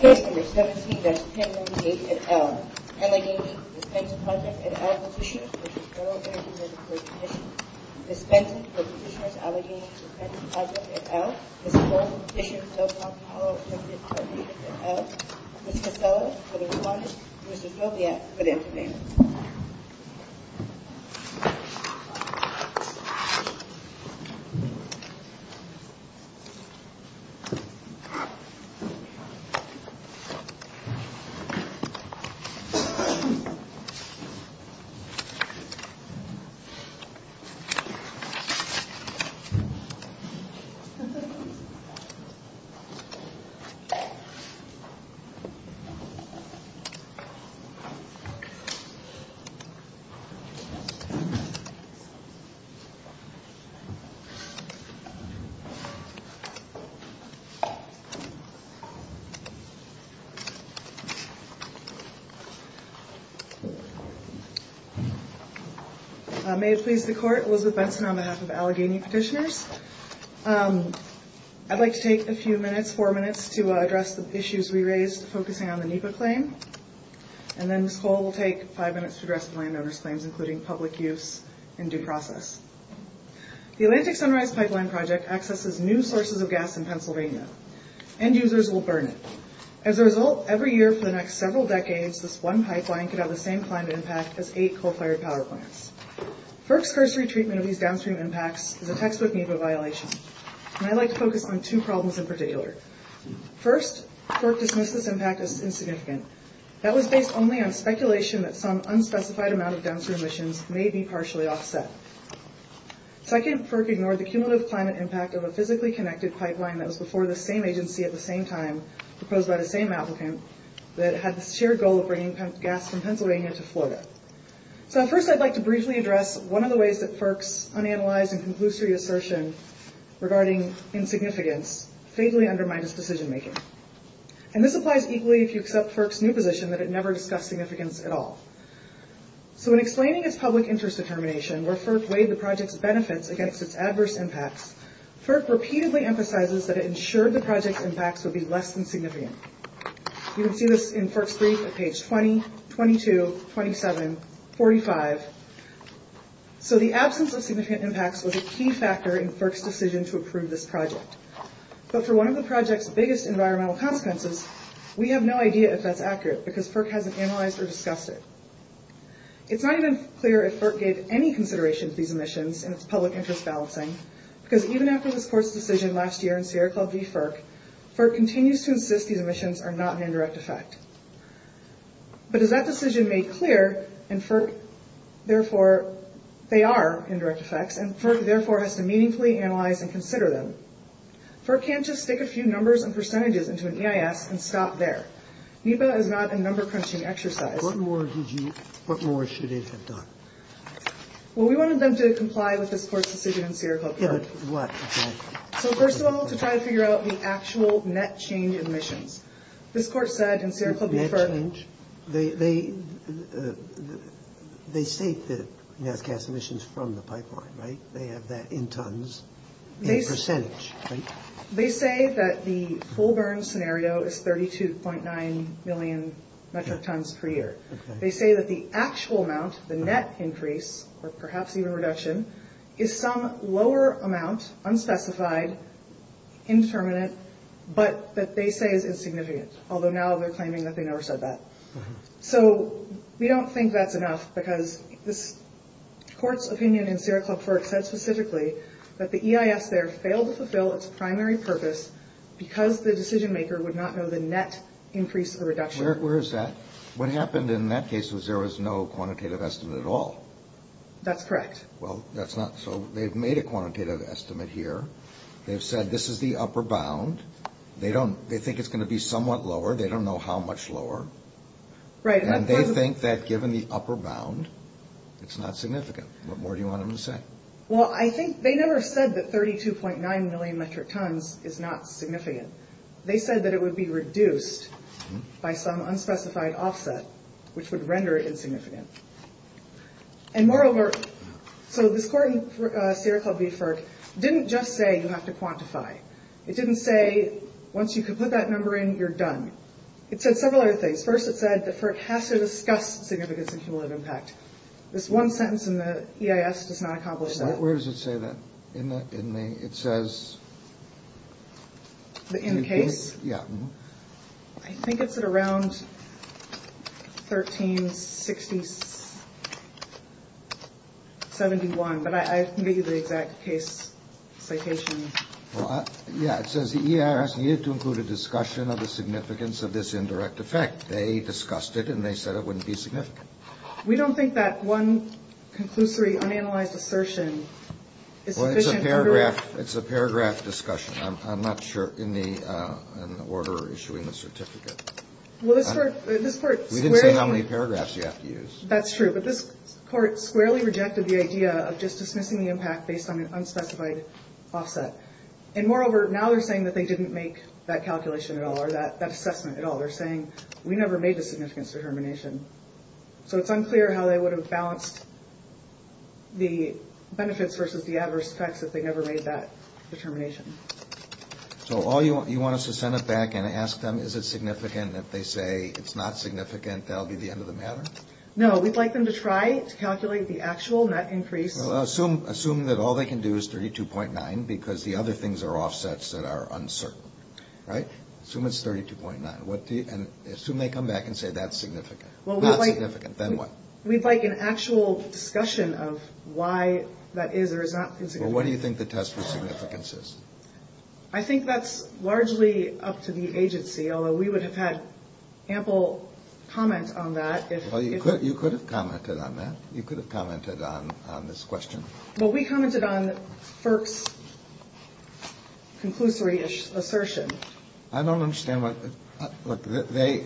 Case No. 17-1098 et al. Allegheny Defense Project et al. Petitioners v. Federal Agencies for Commissioned Dispensing for Petitioners Allegheny Defense Project et al. Ms. Casella, for the respondent. Mr. Sobiette, for the intervener. May it please the Court. Elizabeth Benson on behalf of Allegheny Petitioners. I'd like to take a few minutes, four minutes, to address the issues we raised focusing on the NEPA claim. And then Ms. Cole will take five minutes to address the landowner's claims, including public use and due process. The Atlantic Sunrise Pipeline Project accesses new sources of gas in Pennsylvania. End users will burn it. As a result, every year for the next several decades, this one pipeline could have the same climate impact as eight coal-fired power plants. FERC's cursory treatment of these downstream impacts is a textbook NEPA violation. And I'd like to focus on two problems in particular. First, FERC dismissed this impact as insignificant. That was based only on speculation that some unspecified amount of downstream emissions may be partially offset. Second, FERC ignored the cumulative climate impact of a physically connected pipeline that was before the same agency at the same time, proposed by the same applicant, that had the shared goal of bringing gas from Pennsylvania to Florida. So first, I'd like to briefly address one of the ways that FERC's unanalyzed and conclusory assertion regarding insignificance vaguely undermined its decision making. And this applies equally if you accept FERC's new position that it never discussed significance at all. So in explaining its public interest determination, where FERC weighed the project's benefits against its adverse impacts, FERC repeatedly emphasizes that it ensured the project's impacts would be less than significant. You can see this in FERC's brief at page 20, 22, 27, 45. So the absence of significant impacts was a key factor in FERC's decision to approve this project. But for one of the project's biggest environmental consequences, we have no idea if that's accurate, because FERC hasn't analyzed or discussed it. It's not even clear if FERC gave any consideration to these emissions and its public interest balancing, because even after this court's decision last year in Sierra Club v. FERC, FERC continues to insist these emissions are not an indirect effect. But as that decision made clear, and FERC, therefore, they are indirect effects, and FERC, therefore, has to meaningfully analyze and consider them. FERC can't just stick a few numbers and percentages into an EIS and stop there. NEPA is not a number-crunching exercise. What more should it have done? Well, we wanted them to comply with this court's decision in Sierra Club v. FERC. Yeah, but what? So first of all, to try to figure out the actual net change in emissions. This court said in Sierra Club v. FERC— Net change? They state that NASCAS emissions from the pipeline, right? They have that in tons, in percentage, right? They say that the full burn scenario is 32.9 million metric tons per year. They say that the actual amount, the net increase, or perhaps even reduction, is some lower amount, unspecified, indeterminate, but that they say is insignificant. Although now they're claiming that they never said that. So we don't think that's enough because this court's opinion in Sierra Club v. FERC said specifically that the EIS there failed to fulfill its primary purpose because the decision-maker would not know the net increase or reduction. Where is that? What happened in that case was there was no quantitative estimate at all. That's correct. Well, that's not—so they've made a quantitative estimate here. They've said this is the upper bound. They think it's going to be somewhat lower. They don't know how much lower. And they think that given the upper bound, it's not significant. What more do you want them to say? Well, I think they never said that 32.9 million metric tons is not significant. They said that it would be reduced by some unspecified offset, which would render it insignificant. And moreover, so this court in Sierra Club v. FERC didn't just say you have to quantify. It didn't say once you can put that number in, you're done. It said several other things. First, it said that FERC has to discuss significance and cumulative impact. This one sentence in the EIS does not accomplish that. Where does it say that? In the—it says— In the case? Yeah. I think it's at around 1360—71. But I can give you the exact case citation. Yeah, it says the EIS needed to include a discussion of the significance of this indirect effect. They discussed it, and they said it wouldn't be significant. We don't think that one conclusory, unanalyzed assertion is sufficient— Well, it's a paragraph discussion. I'm not sure in the order issuing the certificate. Well, this court— We didn't say how many paragraphs you have to use. That's true. But this court squarely rejected the idea of just dismissing the impact based on an unspecified offset. And moreover, now they're saying that they didn't make that calculation at all or that assessment at all. They're saying, we never made the significance determination. So it's unclear how they would have balanced the benefits versus the adverse effects if they never made that determination. So you want us to send it back and ask them, is it significant? And if they say it's not significant, that'll be the end of the matter? No, we'd like them to try to calculate the actual net increase. Well, assume that all they can do is 32.9 because the other things are offsets that are uncertain. Assume it's 32.9. And assume they come back and say that's significant. Well, we'd like— Not significant. Then what? We'd like an actual discussion of why that is or is not significant. Well, what do you think the test for significance is? I think that's largely up to the agency, although we would have had ample comment on that if— Well, you could have commented on that. You could have commented on this question. Well, we commented on FERC's conclusory assertion. I don't understand what— Look,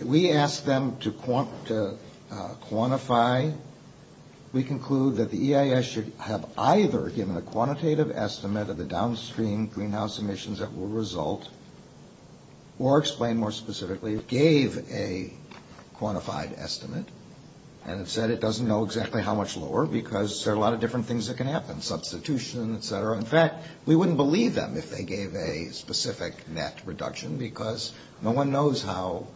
we asked them to quantify. We conclude that the EIS should have either given a quantitative estimate of the downstream greenhouse emissions that will result or explain more specifically it gave a quantified estimate and it said it doesn't know exactly how much lower because there are a lot of different things that can happen, substitution, et cetera. In fact, we wouldn't believe them if they gave a specific net reduction because no one knows how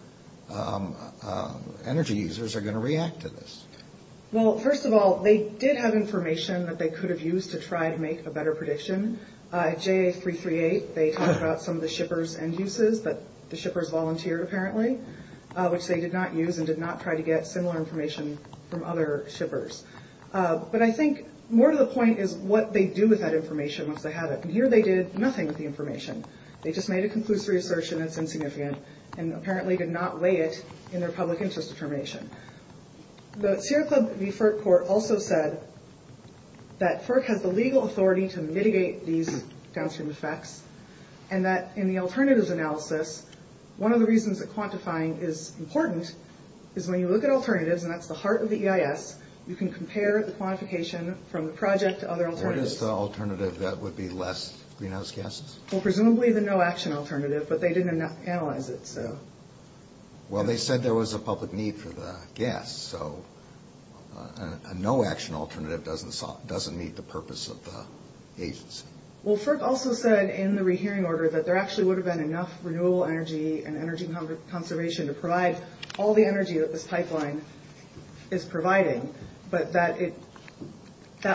energy users are going to react to this. Well, first of all, they did have information that they could have used to try to make a better prediction. At JA338, they talked about some of the shippers' end uses, but the shippers volunteered apparently, which they did not use and did not try to get similar information from other shippers. But I think more to the point is what they do with that information once they have it. Here they did nothing with the information. They just made a conclusory assertion that's insignificant and apparently did not weigh it in their public interest determination. The Sierra Club v. FERC court also said that FERC has the legal authority to mitigate these downstream effects and that in the alternatives analysis, one of the reasons that quantifying is important is when you look at alternatives, and that's the heart of the EIS, you can compare the quantification from the project to other alternatives. What is the alternative that would be less greenhouse gases? Well, presumably the no-action alternative, but they didn't analyze it. Well, they said there was a public need for the gas, so a no-action alternative doesn't meet the purpose of the agency. Well, FERC also said in the rehearing order that there actually would have been enough renewable energy and energy conservation to provide all the energy that this pipeline is providing, but that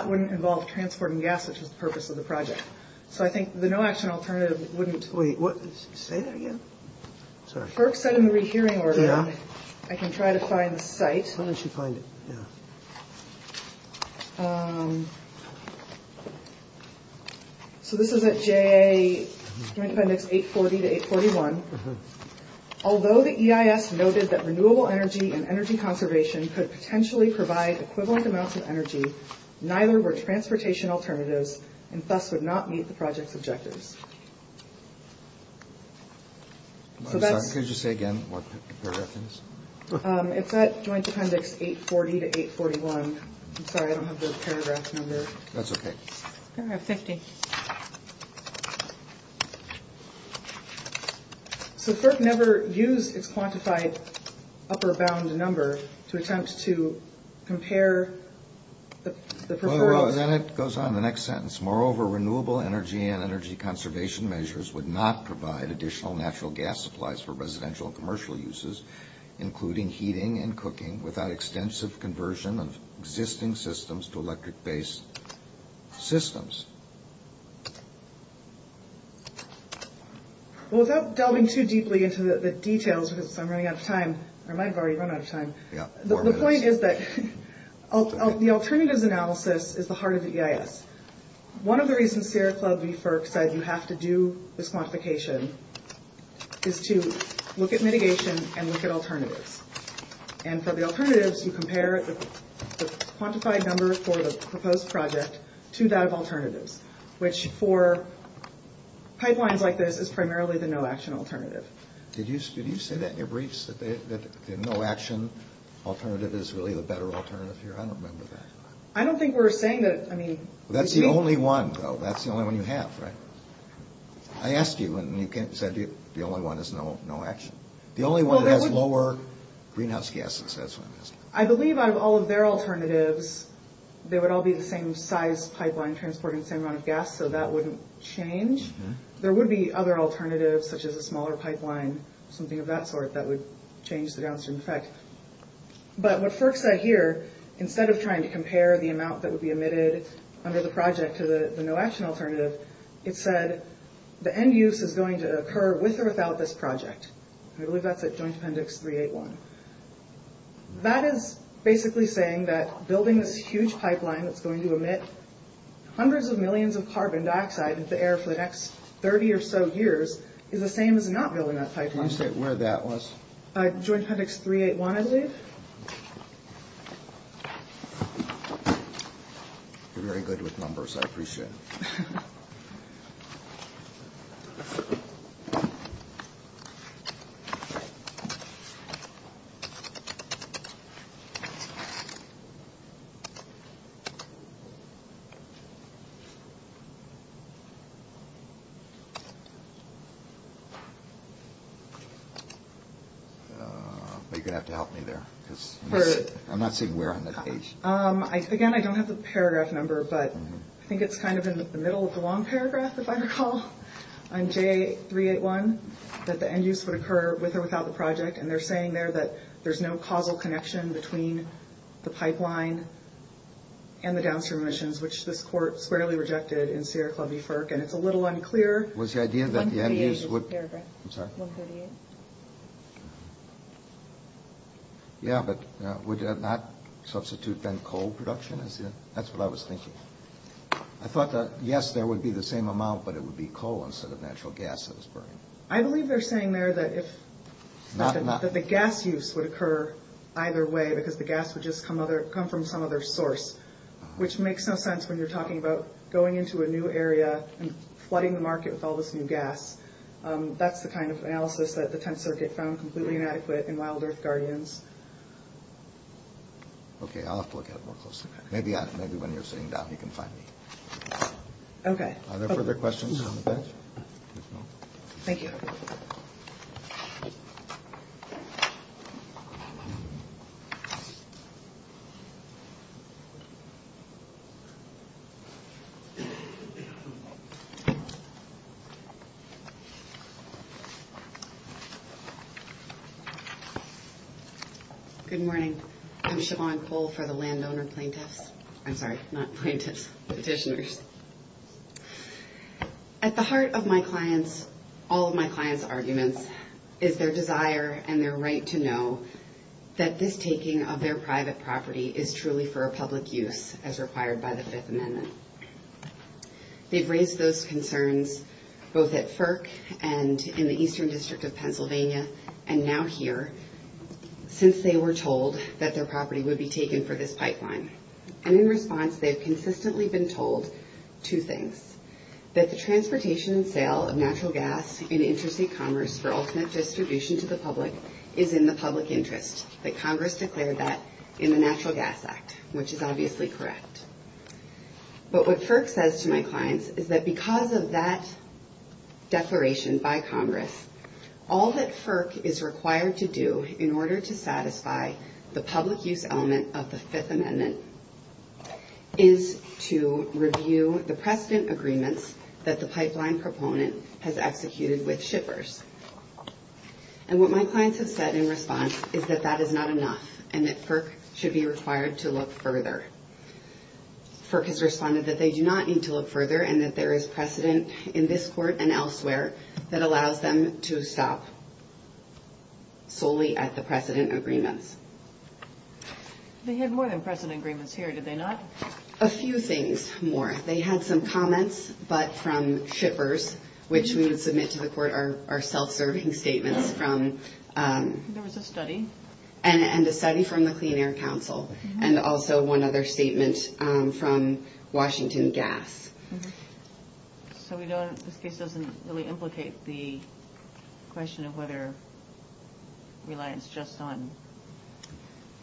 wouldn't involve transporting gas, which is the purpose of the project. So I think the no-action alternative wouldn't. Wait, say that again? FERC said in the rehearing order, and I can try to find the site. Why don't you find it? Okay. So this is at JA Joint Appendix 840 to 841. Although the EIS noted that renewable energy and energy conservation could potentially provide equivalent amounts of energy, neither were transportation alternatives and thus would not meet the project's objectives. Could you say again what paragraph it is? It's at Joint Appendix 840 to 841. I'm sorry, I don't have the paragraph number. That's okay. I have 50. So FERC never used its quantified upper bound number to attempt to compare the preferred. Then it goes on in the next sentence. Moreover, renewable energy and energy conservation measures would not provide additional natural gas supplies for residential and commercial uses, including heating and cooking, without extensive conversion of existing systems to electric-based systems. Well, without delving too deeply into the details, because I'm running out of time, or I might have already run out of time, the point is that the alternatives analysis is the heart of the EIS. One of the reasons Sierra Club v. FERC said you have to do this quantification is to look at mitigation and look at alternatives. And for the alternatives, you compare the quantified number for the proposed project to that of alternatives, which for pipelines like this is primarily the no-action alternative. Did you say that in your briefs, that the no-action alternative is really the better alternative here? I don't remember that. I don't think we're saying that. That's the only one, though. That's the only one you have, right? I asked you, and you said the only one is no-action. The only one that has lower greenhouse gases, that's what I'm asking. I believe out of all of their alternatives, they would all be the same size pipeline, transporting the same amount of gas, so that wouldn't change. There would be other alternatives, such as a smaller pipeline, something of that sort, that would change the downstream effect. But what FERC said here, instead of trying to compare the amount that would be emitted under the project to the no-action alternative, it said the end use is going to occur with or without this project. I believe that's at Joint Appendix 381. That is basically saying that building this huge pipeline that's going to emit hundreds of millions of carbon dioxide into the air for the next 30 or so years is the same as not building that pipeline. Can you state where that was? Joint Appendix 381, I believe. You're very good with numbers. I appreciate it. You're going to have to help me there. I'm not seeing where on that page. Again, I don't have the paragraph number, but I think it's kind of in the middle of the long paragraph, if I recall, on J381, that the end use would occur with or without the project, and they're saying there that there's no causal connection between the pipeline and the downstream emissions, which this court squarely rejected in Sierra Club v. FERC, and it's a little unclear. Was the idea that the end use would – 138 is the paragraph. I'm sorry? 138. Yeah, but would that not substitute then coal production? That's what I was thinking. I thought that, yes, there would be the same amount, but it would be coal instead of natural gas that was burning. I believe they're saying there that the gas use would occur either way because the gas would just come from some other source, which makes no sense when you're talking about going into a new area and flooding the market with all this new gas. That's the kind of analysis that the Tenth Circuit found completely inadequate in Wild Earth Guardians. Okay, I'll have to look at it more closely. Maybe when you're sitting down, you can find me. Okay. Are there further questions on the page? No. Thank you. Good morning. I'm Siobhan Cole for the landowner plaintiffs. I'm sorry, not plaintiffs, petitioners. At the heart of all of my clients' arguments is their desire and their right to know that this taking of their private property is truly for a public use. as required by the Fifth Amendment. They've raised those concerns both at FERC and in the Eastern District of Pennsylvania, and now here, since they were told that their property would be taken for this pipeline. And in response, they've consistently been told two things, that the transportation and sale of natural gas in interstate commerce for ultimate distribution to the public is in the public interest, that Congress declared that in the Natural Gas Act, which is obviously correct. But what FERC says to my clients is that because of that declaration by Congress, all that FERC is required to do in order to satisfy the public use element of the Fifth Amendment is to review the precedent agreements that the pipeline proponent has executed with shippers. And what my clients have said in response is that that is not enough, and that FERC should be required to look further. FERC has responded that they do not need to look further, and that there is precedent in this court and elsewhere that allows them to stop solely at the precedent agreements. They had more than precedent agreements here, did they not? A few things more. They had some comments, but from shippers, which we would submit to the court are self-serving statements from… There was a study. And a study from the Clean Air Council, and also one other statement from Washington Gas. So this case doesn't really implicate the question of whether reliance just on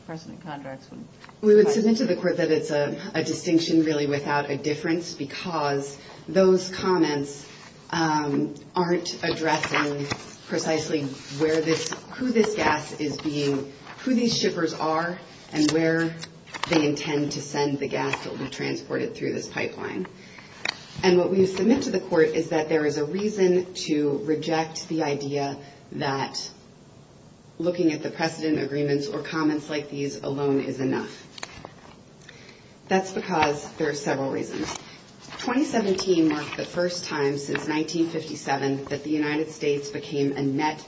precedent contracts would… We would submit to the court that it's a distinction really without a difference because those comments aren't addressing precisely where this… who this gas is being… who these shippers are and where they intend to send the gas that will be transported through this pipeline. And what we submit to the court is that there is a reason to reject the idea that looking at the precedent agreements or comments like these alone is enough. That's because there are several reasons. 2017 marked the first time since 1957 that the United States became a net…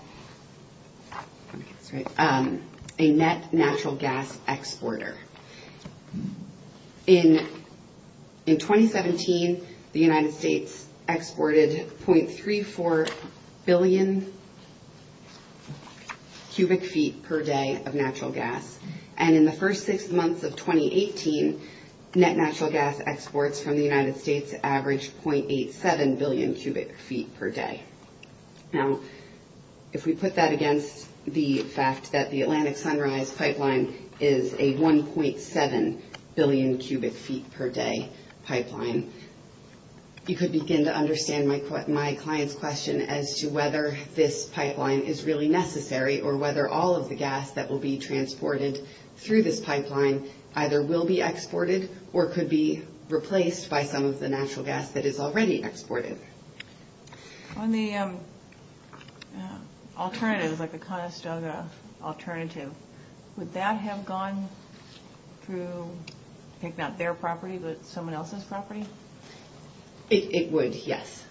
a net natural gas exporter. In 2017, the United States exported 0.34 billion cubic feet per day of natural gas. And in the first six months of 2018, net natural gas exports from the United States averaged 0.87 billion cubic feet per day. Now, if we put that against the fact that the Atlantic Sunrise Pipeline is a 1.7 billion cubic feet per day pipeline, you could begin to understand my client's question as to whether this pipeline is really necessary or whether all of the gas that will be transported through this pipeline either will be exported or could be replaced by some of the natural gas that is already exported. On the alternative, like the Conestoga alternative, would that have gone through, I think, not their property, but someone else's property? It would, yes,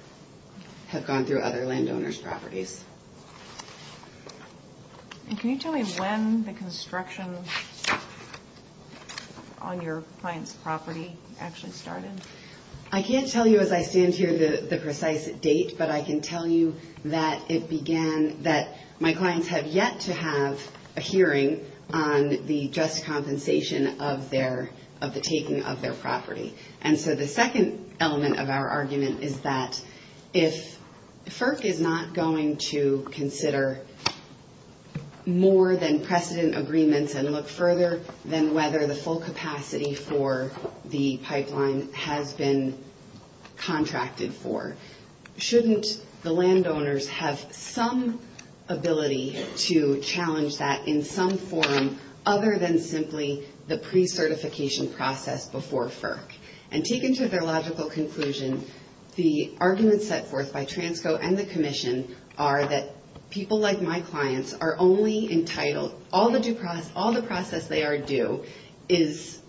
have gone through other landowners' properties. Can you tell me when the construction on your client's property actually started? I can't tell you as I stand here the precise date, but I can tell you that it began… that my clients have yet to have a hearing on the just compensation of their… of the taking of their property. And so the second element of our argument is that if FERC is not going to consider more than precedent agreements and look further than whether the full capacity for the pipeline has been contracted for, shouldn't the landowners have some ability to challenge that in some form other than simply the pre-certification process before FERC? And taken to their logical conclusion, the arguments set forth by Transco and the Commission are that people like my clients are only entitled… all the process they are due is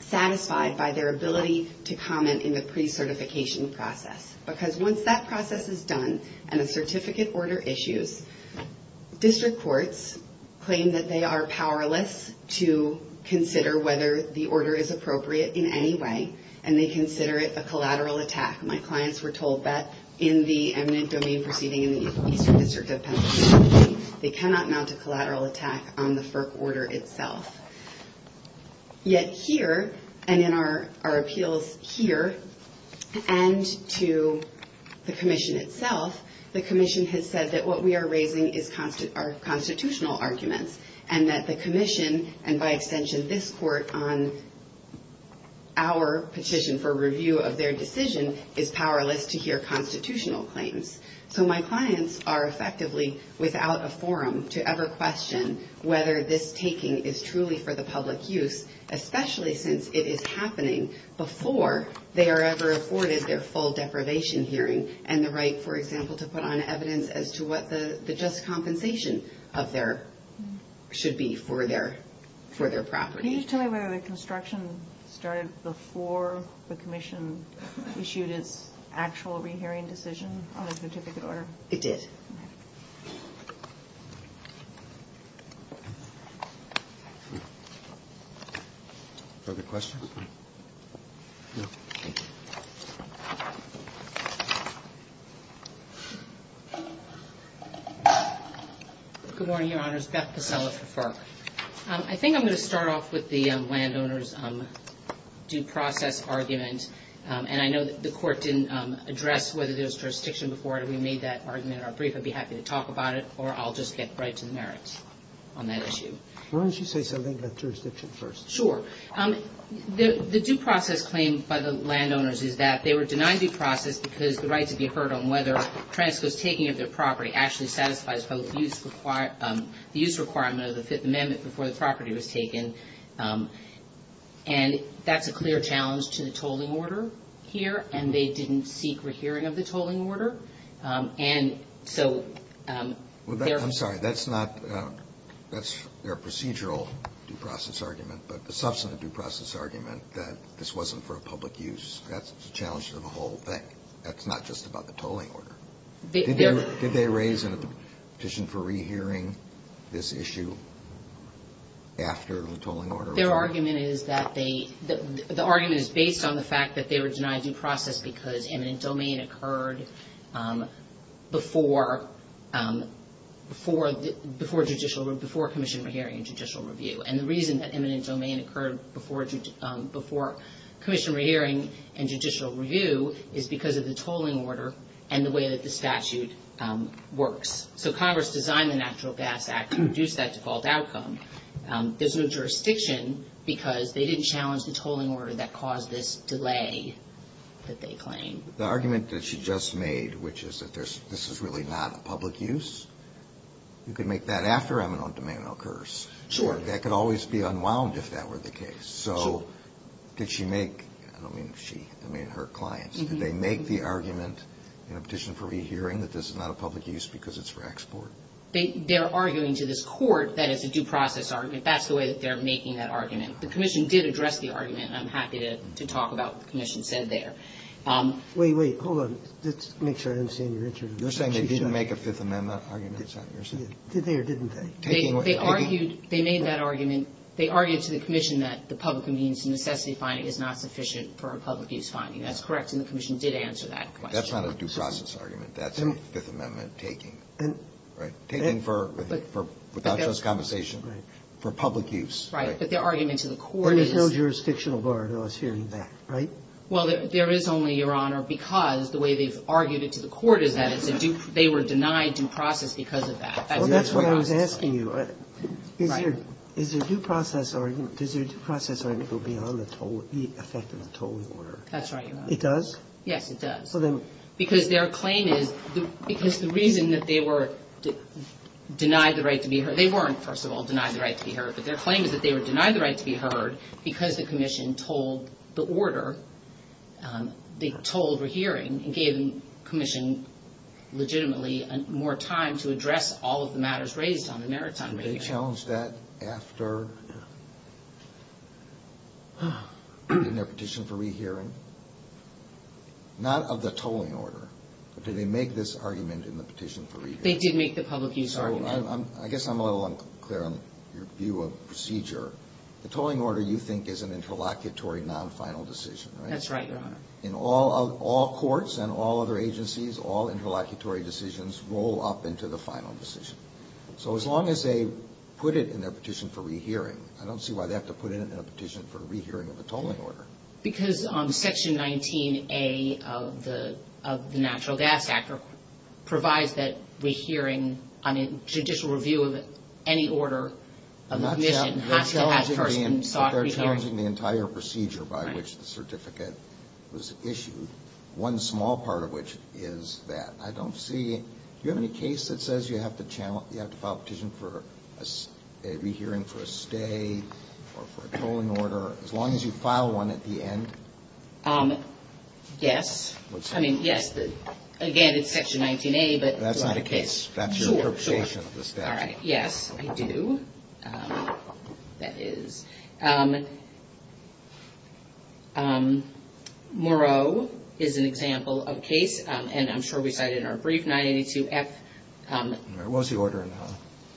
satisfied by their ability to comment in the pre-certification process. Because once that process is done and a certificate order issues, district courts claim that they are powerless to consider whether the order is appropriate in any way, and they consider it a collateral attack. My clients were told that in the eminent domain proceeding in the Eastern District of Pennsylvania, they cannot mount a collateral attack on the FERC order itself. Yet here, and in our appeals here, and to the Commission itself, the Commission has said that what we are raising is constitutional arguments, and that the Commission, and by extension this court on our petition for review of their decision, is powerless to hear constitutional claims. So my clients are effectively without a forum to ever question whether this taking is truly for the public use, especially since it is happening before they are ever afforded their full deprivation hearing, and the right, for example, to put on evidence as to what the just compensation of their… should be for their property. Can you tell me whether the construction started before the Commission issued its actual rehearing decision on the certificate order? It did. Perfect question. Good morning, Your Honors. Beth Pasella for FERC. I think I'm going to start off with the landowner's due process argument. And I know that the Court didn't address whether there was jurisdiction before it. We made that argument in our brief at the beginning. I would be happy to talk about it, or I'll just get right to the merits on that issue. Why don't you say something about jurisdiction first? Sure. The due process claim by the landowners is that they were denied due process because the right to be heard on whether transgress taking of their property actually satisfies the use requirement of the Fifth Amendment before the property was taken. And that's a clear challenge to the tolling order here, and they didn't seek rehearing of the tolling order. I'm sorry, that's their procedural due process argument, but the substantive due process argument that this wasn't for a public use, that's a challenge to the whole thing. That's not just about the tolling order. Did they raise a petition for rehearing this issue after the tolling order? Their argument is that they – the argument is based on the fact that they were denied due process because eminent domain occurred before commission rehearing and judicial review. And the reason that eminent domain occurred before commission rehearing and judicial review is because of the tolling order and the way that the statute works. So Congress designed the Natural Gas Act to reduce that default outcome. There's no jurisdiction because they didn't challenge the tolling order that caused this delay that they claim. The argument that she just made, which is that this is really not a public use, you could make that after eminent domain occurs. Sure. That could always be unwound if that were the case. So did she make – I don't mean she, I mean her clients. Did they make the argument in a petition for rehearing that this is not a public use because it's for export? They're arguing to this court that it's a due process argument. That's the way that they're making that argument. The commission did address the argument, and I'm happy to talk about what the commission said there. Wait, wait. Hold on. Let's make sure I understand your interpretation. You're saying they didn't make a Fifth Amendment argument, is that what you're saying? They did. Did they or didn't they? They argued – they made that argument. They argued to the commission that the public convenience and necessity finding is not sufficient for a public use finding. That's correct, and the commission did answer that question. That's not a due process argument. That's a Fifth Amendment taking. Right. Taking for without just conversation. Right. For public use. Right. But their argument to the court is – But there's no jurisdictional bar to us hearing that, right? Well, there is only, Your Honor, because the way they've argued it to the court is that it's a due – they were denied due process because of that. Well, that's what I was asking you. Right. Is your due process argument – does your due process argument go beyond the effect of the tolling order? That's right, Your Honor. It does? Yes, it does. So then – Because their claim is – because the reason that they were denied the right to be heard – they weren't, first of all, denied the right to be heard, but their claim is that they were denied the right to be heard because the commission told the order – they told re-hearing and gave the commission legitimately more time to address all of the matters raised on the merits on re-hearing. Did they challenge that after – in their petition for re-hearing? Not of the tolling order, but did they make this argument in the petition for re-hearing? They did make the public use argument. So I guess I'm a little unclear on your view of procedure. The tolling order, you think, is an interlocutory, non-final decision, right? That's right, Your Honor. In all courts and all other agencies, all interlocutory decisions roll up into the final decision. So as long as they put it in their petition for re-hearing, I don't see why they have to put it in a petition for re-hearing of a tolling order. Because Section 19A of the Natural Gas Act provides that re-hearing on a judicial review of any order of the commission has to have the person sought re-hearing. They're challenging the entire procedure by which the certificate was issued, one small part of which is that. Do you have any case that says you have to file a petition for a re-hearing for a stay or for a tolling order, as long as you file one at the end? Yes. I mean, yes. Again, it's Section 19A, but... That's not a case. That's your interpretation of the statute. All right. Yes, I do. That is. Moreau is an example of a case, and I'm sure we cited it in our brief, 982F. What was the order?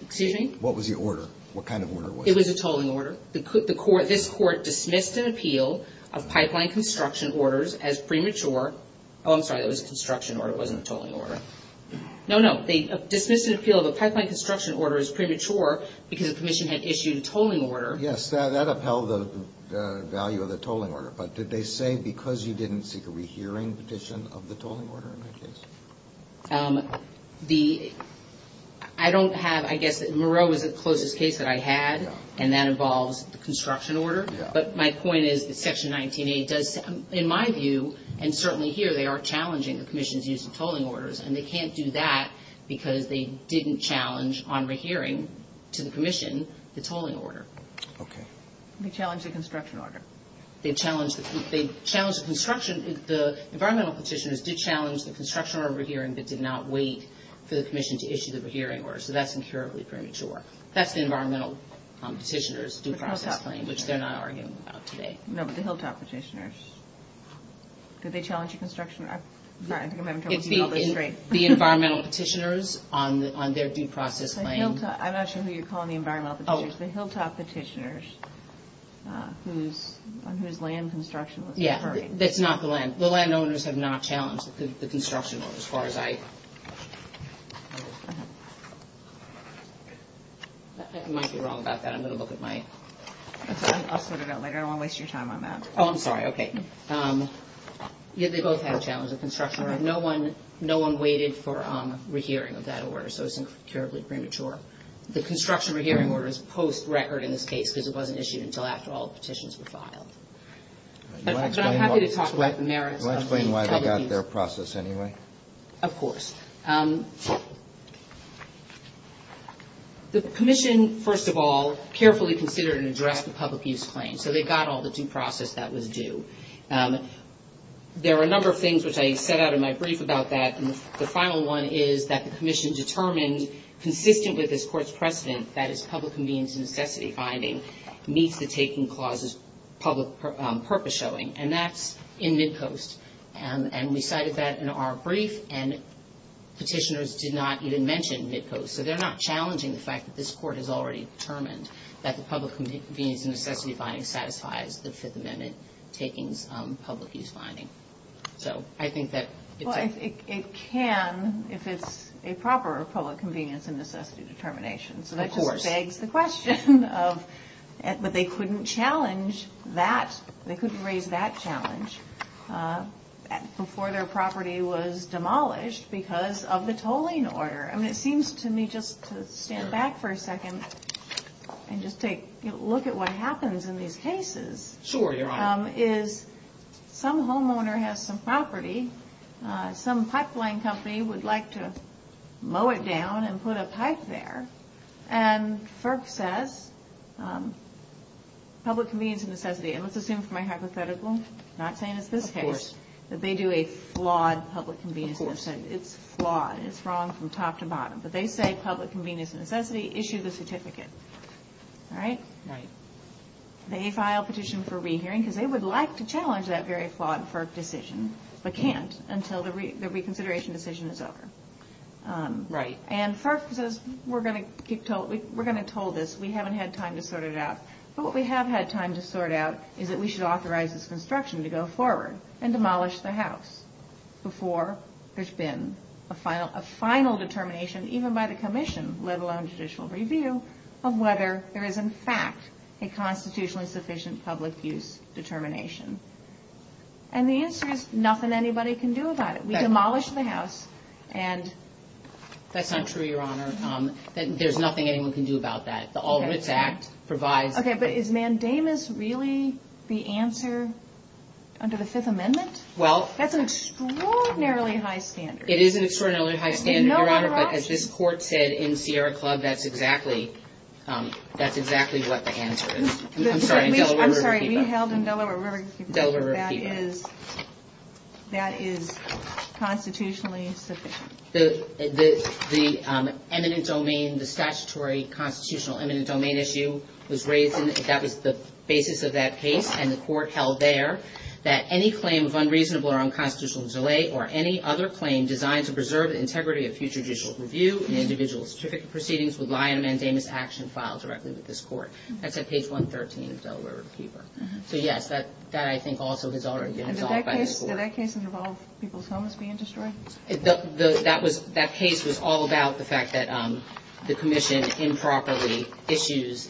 Excuse me? What was the order? What kind of order was it? It was a tolling order. This court dismissed an appeal of pipeline construction orders as premature. Oh, I'm sorry. It was a construction order. It wasn't a tolling order. No, no. They dismissed an appeal of a pipeline construction order as premature because the commission had issued a tolling order. Yes. That upheld the value of the tolling order. But did they say because you didn't seek a re-hearing petition of the tolling order in that case? The – I don't have – I guess that Moreau was the closest case that I had, and that involves the construction order. Yeah. But my point is that Section 19A does – in my view, and certainly here, they are challenging the commission's use of tolling orders, and they can't do that because they didn't challenge on re-hearing to the commission the tolling order. Okay. They challenged the construction order. They challenged the construction – the environmental petitioners did challenge the construction order re-hearing but did not wait for the commission to issue the re-hearing order, so that's incurably premature. That's the environmental petitioners' due process claim, which they're not arguing about today. No, but the Hilltop petitioners. Did they challenge the construction – sorry, I think I'm having trouble seeing all this straight. The environmental petitioners on their due process claim. The Hilltop – I'm not sure who you're calling the environmental petitioners. The Hilltop petitioners on whose land construction was deferred. Yeah, that's not the land. The landowners have not challenged the construction order as far as I – I might be wrong about that. I'm going to look at my – I'll sort it out later. I don't want to waste your time on that. Oh, I'm sorry. Okay. They both have challenged the construction order. No one waited for re-hearing of that order, so it's incurably premature. The construction re-hearing order is post-record in this case because it wasn't issued until after all the petitions were filed. But I'm happy to talk about the merits of the public use claim. Can you explain why they got their process anyway? Of course. The commission, first of all, carefully considered and addressed the public use claim, so they got all the due process that was due. There are a number of things which I set out in my brief about that, and the final one is that the commission determined, consistent with this court's precedent, that its public convenience and necessity finding meets the taking clause's public purpose showing, and that's in Midcoast. And we cited that in our brief, and petitioners did not even mention Midcoast. So they're not challenging the fact that this court has already determined that the public convenience and necessity finding satisfies the Fifth Amendment taking's public use finding. So I think that it's a – Well, it can if it's a proper public convenience and necessity determination. Of course. So that just begs the question of – but they couldn't challenge that. They couldn't raise that challenge before their property was demolished because of the tolling order. I mean, it seems to me just to stand back for a second and just take a look at what happens in these cases. Sure, Your Honor. Is some homeowner has some property, some pipeline company would like to mow it down and put a pipe there, and FERC says public convenience and necessity, and let's assume for my hypothetical, not saying it's this case, that they do a flawed public convenience and necessity. It's flawed. It's wrong from top to bottom. But they say public convenience and necessity, issue the certificate. All right? Right. They file a petition for rehearing because they would like to challenge that very flawed FERC decision but can't until the reconsideration decision is over. Right. And FERC says we're going to toll this. We haven't had time to sort it out. But what we have had time to sort out is that we should authorize this construction to go forward and demolish the house before there's been a final determination, even by the commission, let alone judicial review, of whether there is, in fact, a constitutionally sufficient public use determination. And the answer is nothing anybody can do about it. We demolish the house. That's not true, Your Honor. There's nothing anyone can do about that. The All Writs Act provides. Okay. But is mandamus really the answer under the Fifth Amendment? Well. That's an extraordinarily high standard. It is an extraordinarily high standard, Your Honor. But as this court said in Sierra Club, that's exactly what the answer is. I'm sorry. We held in Delaware River Keeper. Delaware River Keeper. That is constitutionally sufficient. The eminent domain, the statutory constitutional eminent domain issue was raised. That was the basis of that case. And the court held there that any claim of unreasonable or unconstitutional delay or any other claim designed to preserve the integrity of future judicial review and individual certificate proceedings would lie in a mandamus action filed directly with this court. That's at page 113 of Delaware River Keeper. So, yes, that I think also has already been resolved by this court. Did that case involve people's homes being destroyed? That case was all about the fact that the commission improperly issues.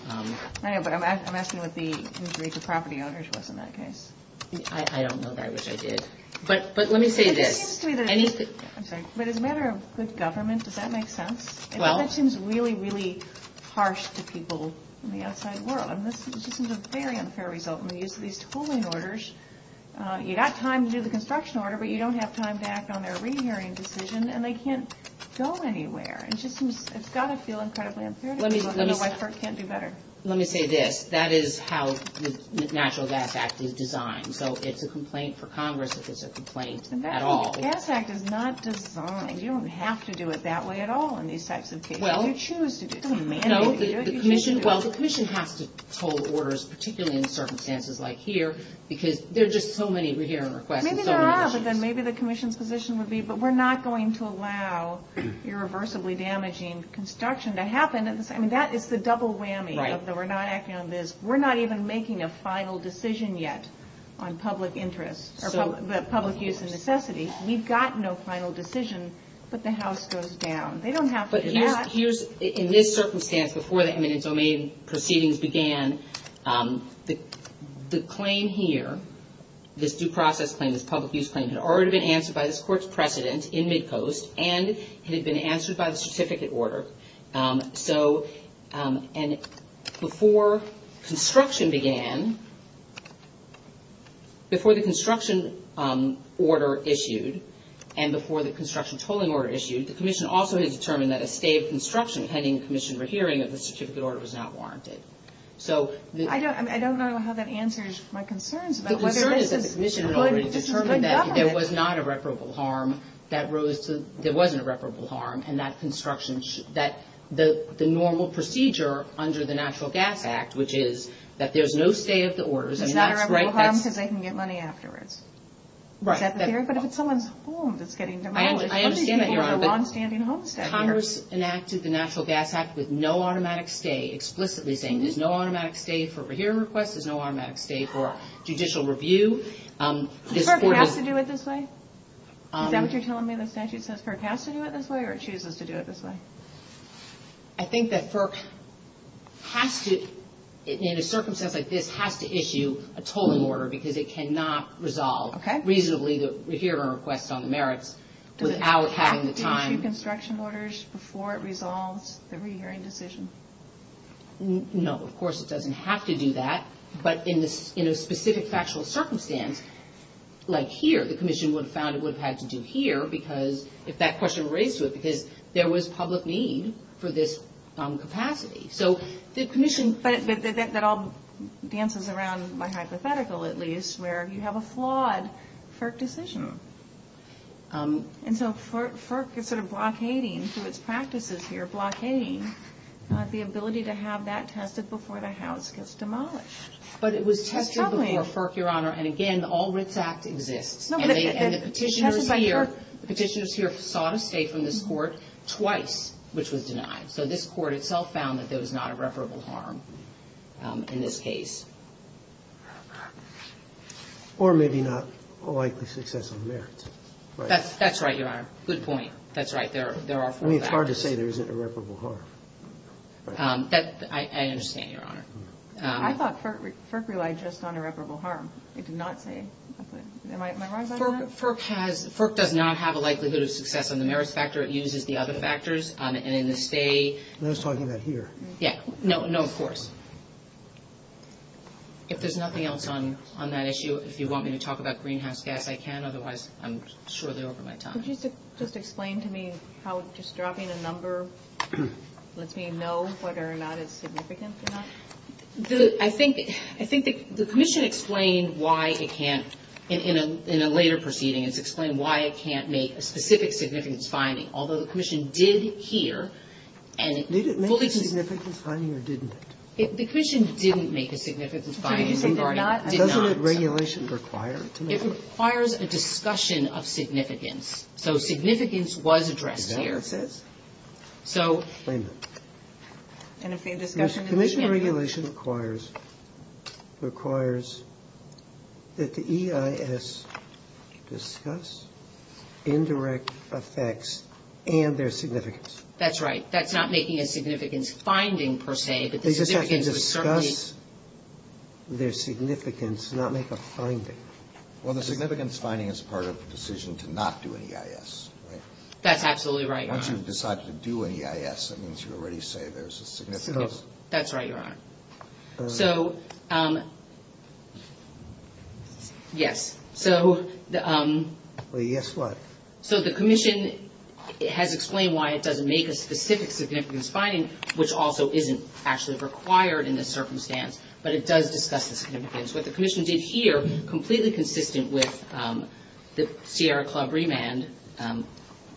I know, but I'm asking what the injury to property owners was in that case. I don't know, but I wish I did. But let me say this. I'm sorry. But as a matter of good government, does that make sense? Well. That seems really, really harsh to people in the outside world. And this is a very unfair result. When we use these tolling orders, you've got time to do the construction order, but you don't have time to act on their re-hearing decision, and they can't go anywhere. It's got to feel incredibly unfair to people. I don't know why FERC can't do better. Let me say this. That is how the Natural Gas Act is designed. So it's a complaint for Congress if it's a complaint at all. The Natural Gas Act is not designed. You don't have to do it that way at all in these types of cases. You choose to do it. You don't mandate it. Well, the commission has to toll orders, particularly in circumstances like here, because there are just so many re-hearing requests. Maybe there are, but then maybe the commission's position would be, but we're not going to allow irreversibly damaging construction to happen. I mean, that is the double whammy, that we're not acting on this. We're not even making a final decision yet on public interest or public use and necessity. We've got no final decision, but the House goes down. They don't have to do that. In this circumstance, before the eminent domain proceedings began, the claim here, this due process claim, this public use claim, had already been answered by this Court's precedent in Midcoast and had been answered by the certificate order. So before construction began, before the construction order issued and before the construction tolling order issued, the commission also had determined that a stay of construction pending commission re-hearing of the certificate order was not warranted. I don't know how that answers my concerns. The concern is that the commission had already determined that there was not irreparable harm, that there wasn't irreparable harm, and that the normal procedure under the Natural Gas Act, which is that there's no stay of the orders. There's not irreparable harm because they can get money afterwards. Right. Is that the theory? But if it's someone's home that's getting demolished, I understand that, Your Honor, but Congress enacted the Natural Gas Act with no automatic stay, explicitly saying there's no automatic stay for a re-hearing request, there's no automatic stay for judicial review. FERC has to do it this way? Is that what you're telling me the statute says FERC has to do it this way or it chooses to do it this way? I think that FERC has to, in a circumstance like this, has to issue a tolling order because it cannot resolve reasonably the re-hearing request on the merits. Does it have to issue construction orders before it resolves the re-hearing decision? No, of course it doesn't have to do that. But in a specific factual circumstance, like here, the commission would have found it would have had to do here if that question were raised to it because there was public need for this capacity. But that all dances around my hypothetical, at least, where you have a flawed FERC decision. And so FERC is sort of blockading through its practices here, blockading the ability to have that tested before the house gets demolished. But it was tested before FERC, Your Honor, and again, the All Writs Act exists. And the petitioners here sought a stay from this court twice, which was denied. So this court itself found that there was not irreparable harm in this case. Or maybe not a likely success on the merits. That's right, Your Honor. Good point. That's right. There are four factors. I mean, it's hard to say there isn't irreparable harm. I understand, Your Honor. I thought FERC relied just on irreparable harm. It did not say. Am I wrong about that? FERC does not have a likelihood of success on the merits factor. It uses the other factors. And in the stay. I was talking about here. Yeah. No, of course. If there's nothing else on that issue, if you want me to talk about greenhouse gas, I can. Otherwise, I'm surely over my time. Could you just explain to me how just dropping a number lets me know whether or not it's significant or not? I think the commission explained why it can't. In a later proceeding, it's explained why it can't make a specific significance finding. Although the commission did here. Did it make a significance finding or didn't it? The commission didn't make a significance finding. It did not? It did not. Doesn't regulation require it to make it? It requires a discussion of significance. So significance was addressed here. Exactly. So. Explain that. Commission regulation requires, requires that the EIS discuss indirect effects and their significance. That's right. That's not making a significance finding, per se. They just have to discuss their significance, not make a finding. Well, the significance finding is part of the decision to not do an EIS. That's absolutely right. Once you've decided to do an EIS, that means you already say there's a significance. That's right, Your Honor. So, yes. So. Well, yes, what? So the commission has explained why it doesn't make a specific significance finding, which also isn't actually required in this circumstance. But it does discuss the significance. What the commission did here, completely consistent with the Sierra Club remand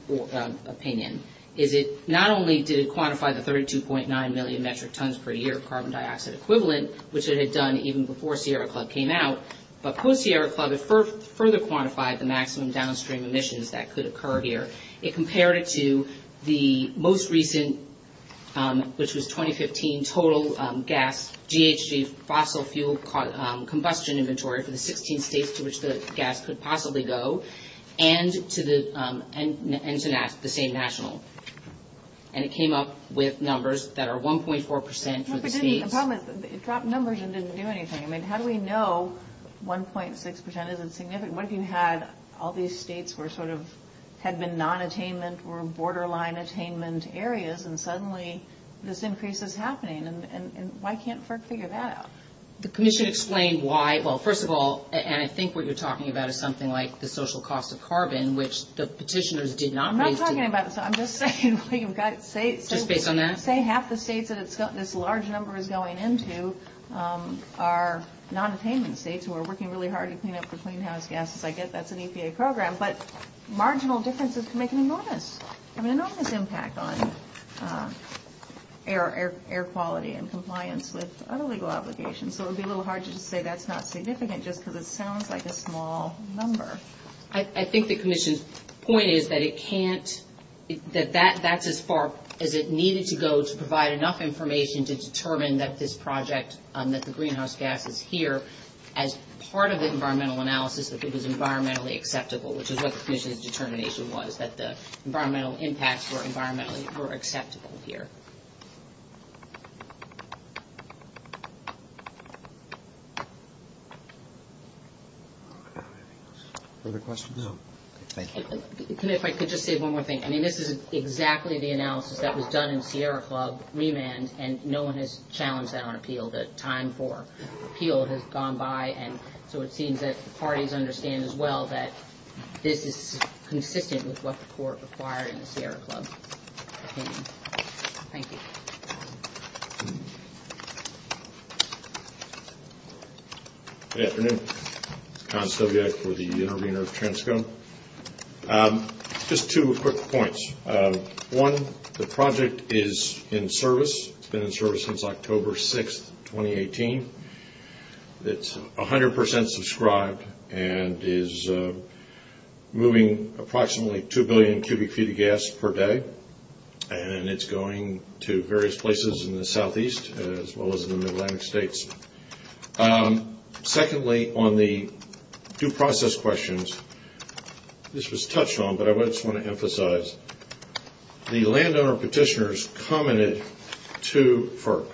opinion, is it not only did it quantify the 32.9 million metric tons per year of carbon dioxide equivalent, which it had done even before Sierra Club came out, but post-Sierra Club it further quantified the maximum downstream emissions that could occur here. It compared it to the most recent, which was 2015, total gas GHG fossil fuel combustion inventory for the 16 states to which the gas could possibly go, and to the same national. And it came up with numbers that are 1.4 percent for the states. The problem is it dropped numbers and didn't do anything. I mean, how do we know 1.6 percent isn't significant? What if you had all these states were sort of had been non-attainment or borderline attainment areas, and suddenly this increase is happening? And why can't FERC figure that out? The commission explained why. Well, first of all, and I think what you're talking about is something like the social cost of carbon, which the petitioners did not raise. I'm not talking about that. I'm just saying. Just based on that? Say half the states that this large number is going into are non-attainment states who are working really hard to clean up the clean house gases. I get that's an EPA program, but marginal differences can make an enormous impact on air quality and compliance with other legal obligations. So it would be a little hard to just say that's not significant just because it sounds like a small number. I think the commission's point is that it can't, that that's as far as it needed to go to provide enough information to determine that this project, that the greenhouse gases here, as part of the environmental analysis, that it was environmentally acceptable, which is what the commission's determination was, that the environmental impacts were environmentally, were acceptable here. If I could just say one more thing. I mean, this is exactly the analysis that was done in Sierra Club remand, and no one has challenged that on appeal. The time for appeal has gone by, and so it seems that the parties understand as well that this is consistent with what the court required in the Sierra Club opinion. Thank you. Good afternoon. It's Con Stobiak for the intervener of Transco. Just two quick points. One, the project is in service. It's been in service since October 6th, 2018. It's 100% subscribed and is moving approximately 2 billion cubic feet of gas per day, and it's going to various places in the southeast as well as in the mid-Atlantic states. Secondly, on the due process questions, this was touched on, but I just want to emphasize, the landowner petitioners commented to FERC.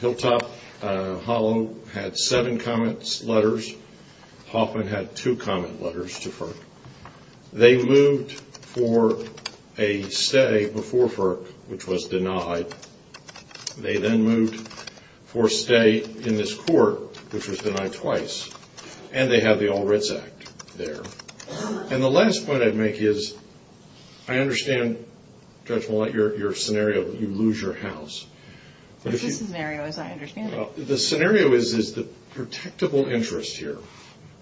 Hilltop Hollow had seven comment letters. Hoffman had two comment letters to FERC. They moved for a stay before FERC, which was denied. They then moved for a stay in this court, which was denied twice, and they have the All Writs Act there. And the last point I'd make is I understand, Judge Mollett, your scenario that you lose your house. What's the scenario as I understand it? The scenario is the protectable interest here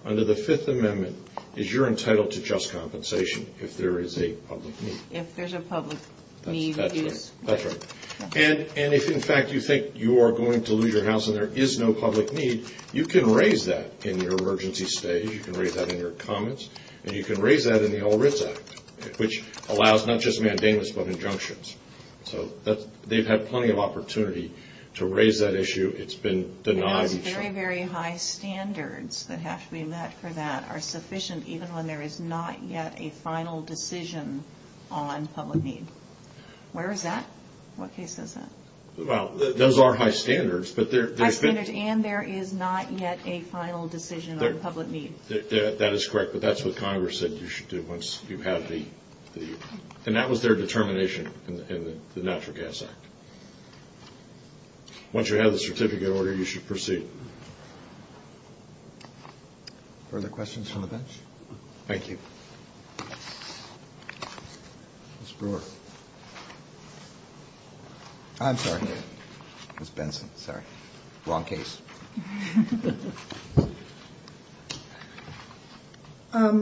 under the Fifth Amendment is you're entitled to just compensation if there is a public need. If there's a public need. That's right. And if, in fact, you think you are going to lose your house and there is no public need, you can raise that in your emergency stage, you can raise that in your comments, and you can raise that in the All Writs Act, which allows not just mandamus but injunctions. So they've had plenty of opportunity to raise that issue. It's been denied. And those very, very high standards that have to be met for that are sufficient even when there is not yet a final decision on public need. Where is that? What case is that? Well, those are high standards, but there's been – There is not yet a final decision on public need. That is correct, but that's what Congress said you should do once you have the – and that was their determination in the Natural Gas Act. Once you have the certificate order, you should proceed. Further questions from the bench? Thank you. Ms. Brewer. I'm sorry. Ms. Benson, sorry. Wrong case.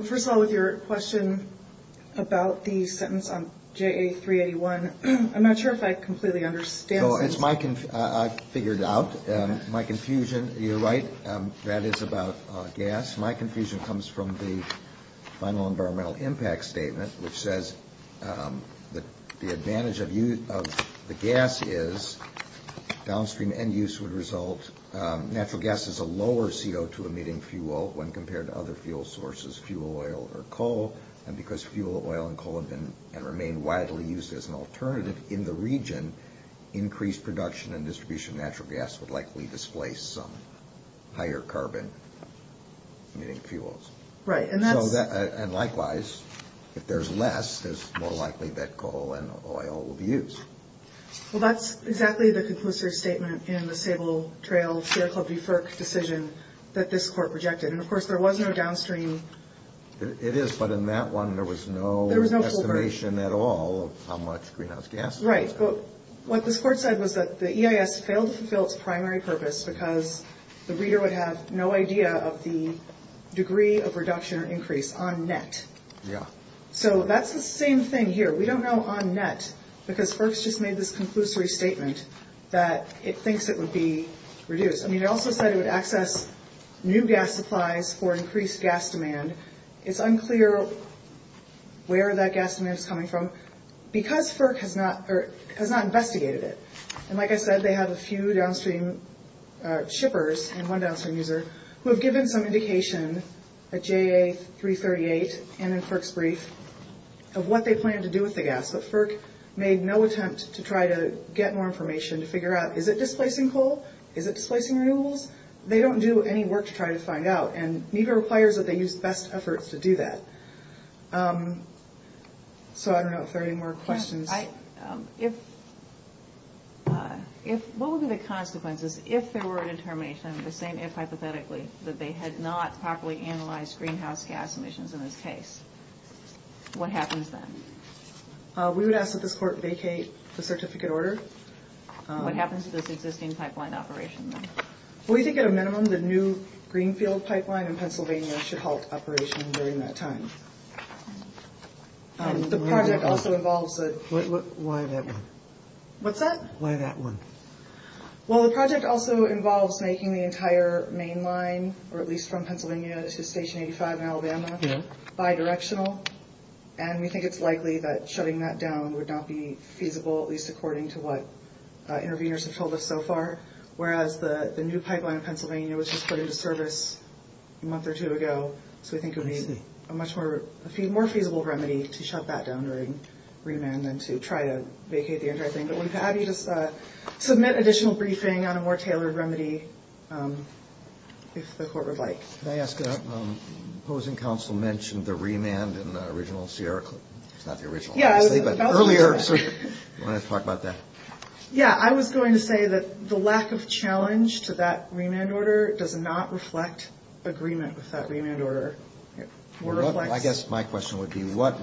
First of all, with your question about the sentence on JA381, I'm not sure if I completely understand. No, it's my – I figured it out. My confusion – you're right. That is about gas. My confusion comes from the final environmental impact statement, which says that the advantage of the gas is downstream end use would result – natural gas is a lower CO2-emitting fuel when compared to other fuel sources, fuel oil or coal, and because fuel oil and coal have been and remain widely used as an alternative in the region, increased production and distribution of natural gas would likely displace some higher carbon-emitting fuels. Right, and that's – And likewise, if there's less, there's more likely that coal and oil will be used. Well, that's exactly the conclusive statement in the Sable Trail Fair Club deferred decision that this court rejected. And, of course, there was no downstream – It is, but in that one, there was no estimation at all of how much greenhouse gases – Right, but what this court said was that the EIS failed to fulfill its primary purpose because the reader would have no idea of the degree of reduction or increase on net. Yeah. So that's the same thing here. We don't know on net because FERC's just made this conclusory statement that it thinks it would be reduced. I mean, it also said it would access new gas supplies for increased gas demand. It's unclear where that gas demand is coming from. Because FERC has not investigated it – And like I said, they have a few downstream shippers and one downstream user who have given some indication at JA338 and in FERC's brief of what they plan to do with the gas. But FERC made no attempt to try to get more information to figure out, is it displacing coal? Is it displacing renewables? They don't do any work to try to find out, and NEPA requires that they use best efforts to do that. So I don't know if there are any more questions. What would be the consequences if there were a determination, the same if hypothetically, that they had not properly analyzed greenhouse gas emissions in this case? What happens then? We would ask that this court vacate the certificate order. What happens to this existing pipeline operation then? We think at a minimum the new Greenfield pipeline in Pennsylvania should halt operation during that time. The project also involves – Why that one? What's that? Why that one? Well, the project also involves making the entire main line, or at least from Pennsylvania to Station 85 in Alabama, bidirectional. And we think it's likely that shutting that down would not be feasible, at least according to what interveners have told us so far. Whereas the new pipeline in Pennsylvania was just put into service a month or two ago, so we think it would be a more feasible remedy to shut that down during remand than to try to vacate the entire thing. But we'd be happy to submit additional briefing on a more tailored remedy if the court would like. May I ask, opposing counsel mentioned the remand in the original Sierra clip. It's not the original, obviously, but earlier. Do you want to talk about that? Yeah, I was going to say that the lack of challenge to that remand order does not reflect agreement with that remand order. I guess my question would be what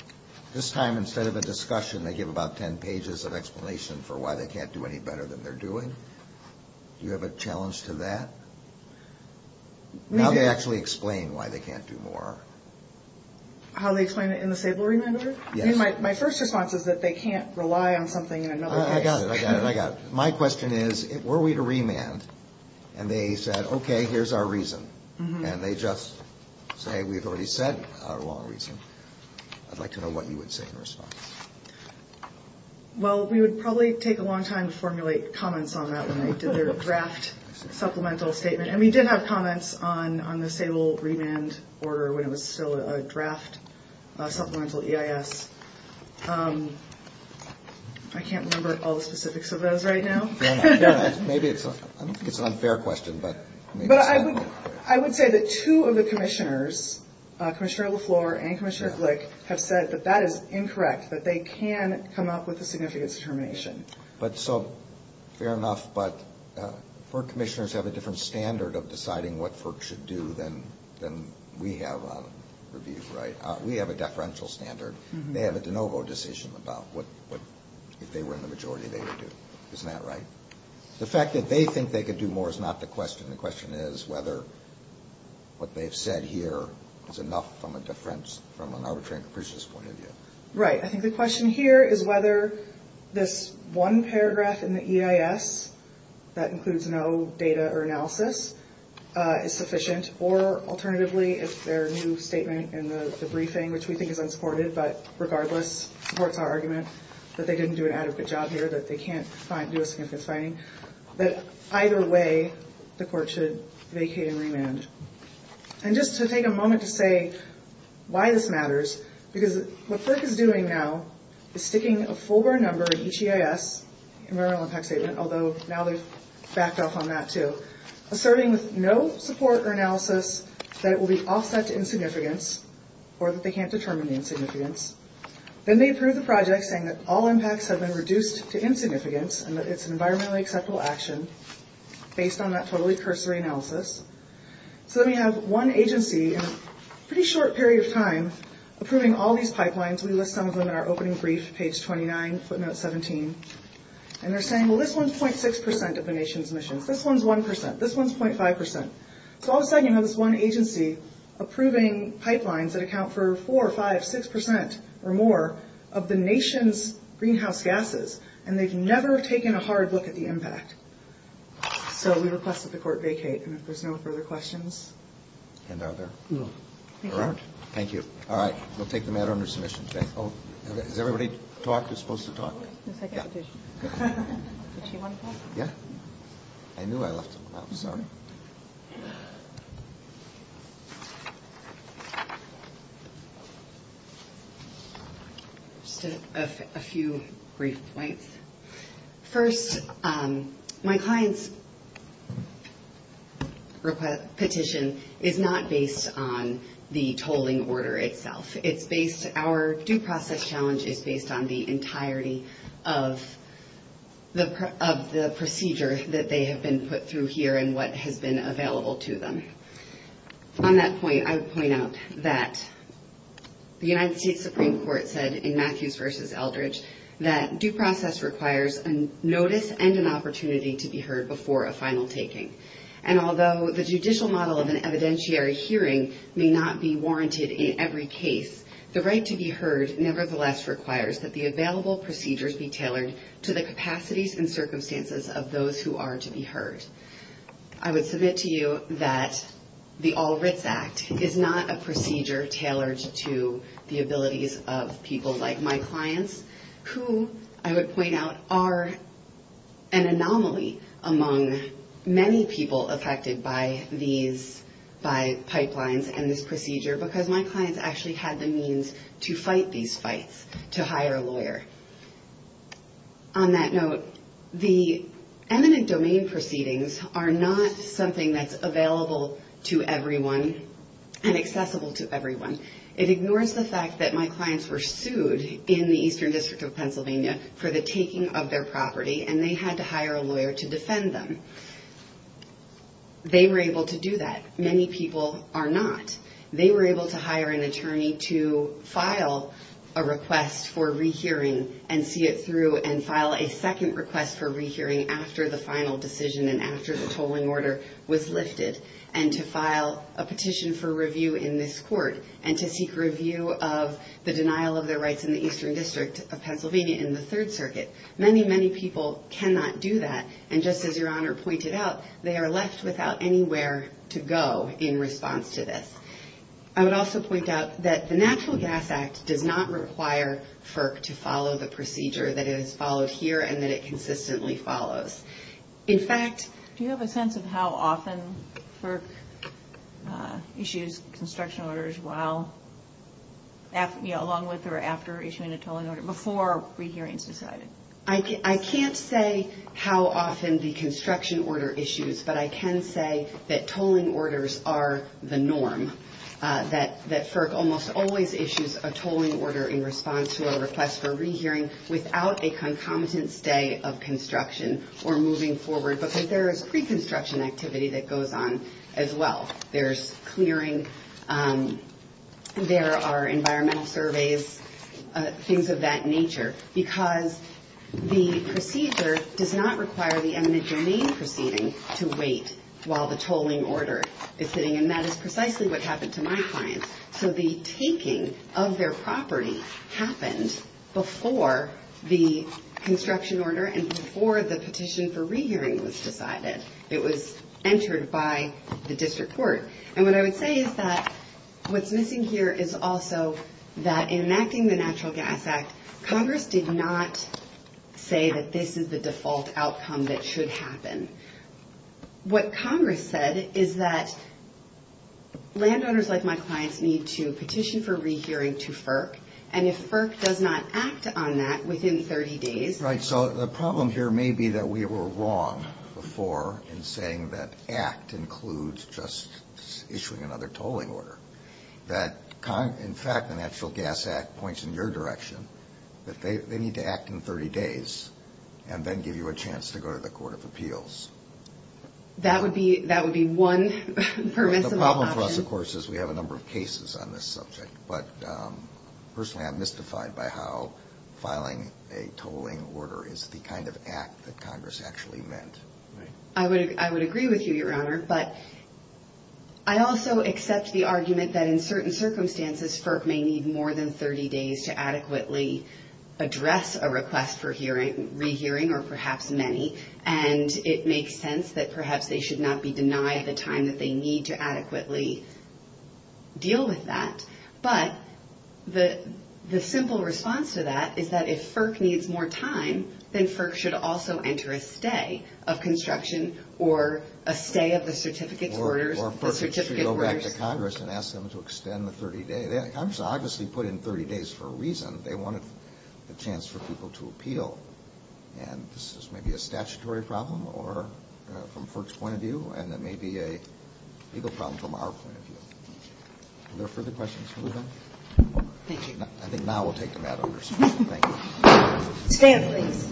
– this time instead of a discussion they give about 10 pages of explanation for why they can't do any better than they're doing. Do you have a challenge to that? How do they actually explain why they can't do more? How they explain it in the Sable remand order? My first response is that they can't rely on something in another place. I got it, I got it, I got it. My question is, were we to remand, and they said, okay, here's our reason, and they just say, we've already said our long reason. I'd like to know what you would say in response. Well, we would probably take a long time to formulate comments on that when they did their draft supplemental statement. And we did have comments on the Sable remand order when it was still a draft supplemental EIS. I can't remember all the specifics of those right now. Maybe it's an unfair question. I would say that two of the commissioners, Commissioner LaFleur and Commissioner Glick, have said that that is incorrect, that they can come up with a significance determination. Fair enough, but FERC commissioners have a different standard of deciding what FERC should do than we have on review, right? We have a deferential standard. They have a de novo decision about what, if they were in the majority, they would do. Isn't that right? The fact that they think they could do more is not the question. The question is whether what they've said here is enough from an arbitrary and capricious point of view. Right. I think the question here is whether this one paragraph in the EIS, that includes no data or analysis, is sufficient, or alternatively if their new statement in the briefing, which we think is unsupported, but regardless supports our argument that they didn't do an adequate job here, that they can't do a significance finding, that either way the court should vacate and remand. And just to take a moment to say why this matters, because what FERC is doing now is sticking a full-blown number in each EIS, environmental impact statement, although now they've backed off on that too, asserting with no support or analysis that it will be offset to insignificance or that they can't determine the insignificance. Then they approve the project saying that all impacts have been reduced to insignificance and that it's an environmentally acceptable action based on that totally cursory analysis. So then we have one agency in a pretty short period of time approving all these pipelines. We list some of them in our opening brief, page 29, footnote 17. And they're saying, well, this one's .6 percent of the nation's emissions. This one's 1 percent. This one's .5 percent. So all of a sudden you have this one agency approving pipelines that account for 4 or 5, 6 percent or more of the nation's greenhouse gases, and they've never taken a hard look at the impact. So we request that the court vacate, and if there's no further questions. And are there? No. There aren't. Thank you. All right. We'll take the matter under submission today. Has everybody talked? We're supposed to talk. Yeah. Did she want to talk? Yeah. I knew I left them out. Sorry. Just a few brief points. First, my client's petition is not based on the tolling order itself. It's based, our due process challenge is based on the entirety of the procedure that they have been put through here and what has been available to them. On that point, I would point out that the United States Supreme Court said in notice and an opportunity to be heard before a final taking. And although the judicial model of an evidentiary hearing may not be warranted in every case, the right to be heard nevertheless requires that the available procedures be tailored to the capacities and circumstances of those who are to be heard. I would submit to you that the All Writs Act is not a procedure tailored to the capacity of the United States Supreme Court. All the procedures that I'm talking about are an anomaly among many people affected by these, by pipelines and this procedure because my client's actually had the means to fight these fights, to hire a lawyer. On that note, the eminent domain proceedings are not something that's available to everyone and accessible to everyone. It ignores the fact that my clients were sued in the Eastern District of Pennsylvania for the taking of their property and they had to hire a lawyer to defend them. They were able to do that. Many people are not. They were able to hire an attorney to file a request for rehearing and see it through and file a second request for rehearing after the final decision and after the tolling order was lifted and to file a petition for review in this case and to seek review of the denial of their rights in the Eastern District of Pennsylvania in the Third Circuit. Many, many people cannot do that. And just as Your Honor pointed out, they are left without anywhere to go in response to this. I would also point out that the Natural Gas Act does not require FERC to follow the procedure, that it is followed here and that it consistently follows. In fact... Do you have a sense of how often FERC issues construction orders along with or after issuing a tolling order, before a rehearing is decided? I can't say how often the construction order issues, but I can say that tolling orders are the norm, that FERC almost always issues a tolling order in response to a request for rehearing without a concomitant stay of construction or moving forward, because there is pre-construction activity that goes on as well. There's clearing, there are environmental surveys, things of that nature. Because the procedure does not require the eminent domain proceeding to wait while the tolling order is sitting, and that is precisely what happened to my property, happened before the construction order and before the petition for rehearing was decided. It was entered by the District Court. And what I would say is that what's missing here is also that in enacting the Natural Gas Act, Congress did not say that this is the default outcome that should happen. What Congress said is that landowners like my clients need to petition for FERC, and if FERC does not act on that within 30 days... Right, so the problem here may be that we were wrong before in saying that act includes just issuing another tolling order. That, in fact, the Natural Gas Act points in your direction, that they need to act in 30 days and then give you a chance to go to the Court of Appeals. That would be one permissible option. The problem for us, of course, is we have a number of cases on this subject, but personally I'm mystified by how filing a tolling order is the kind of act that Congress actually meant. I would agree with you, Your Honor, but I also accept the argument that in certain circumstances FERC may need more than 30 days to adequately address a request for rehearing, or perhaps many, and it makes sense that perhaps they should not be denied the time that they need to adequately deal with that. But the simple response to that is that if FERC needs more time, then FERC should also enter a stay of construction or a stay of the certificate orders. Or FERC should go back to Congress and ask them to extend the 30-day. Congress obviously put in 30 days for a reason. They wanted the chance for people to appeal, and this is maybe a statutory problem or from FERC's point of view, and it may be a legal problem from our point of view. Are there further questions, Your Honor? Thank you. I think now we'll take the matter under suspension. Thank you. Stand, please.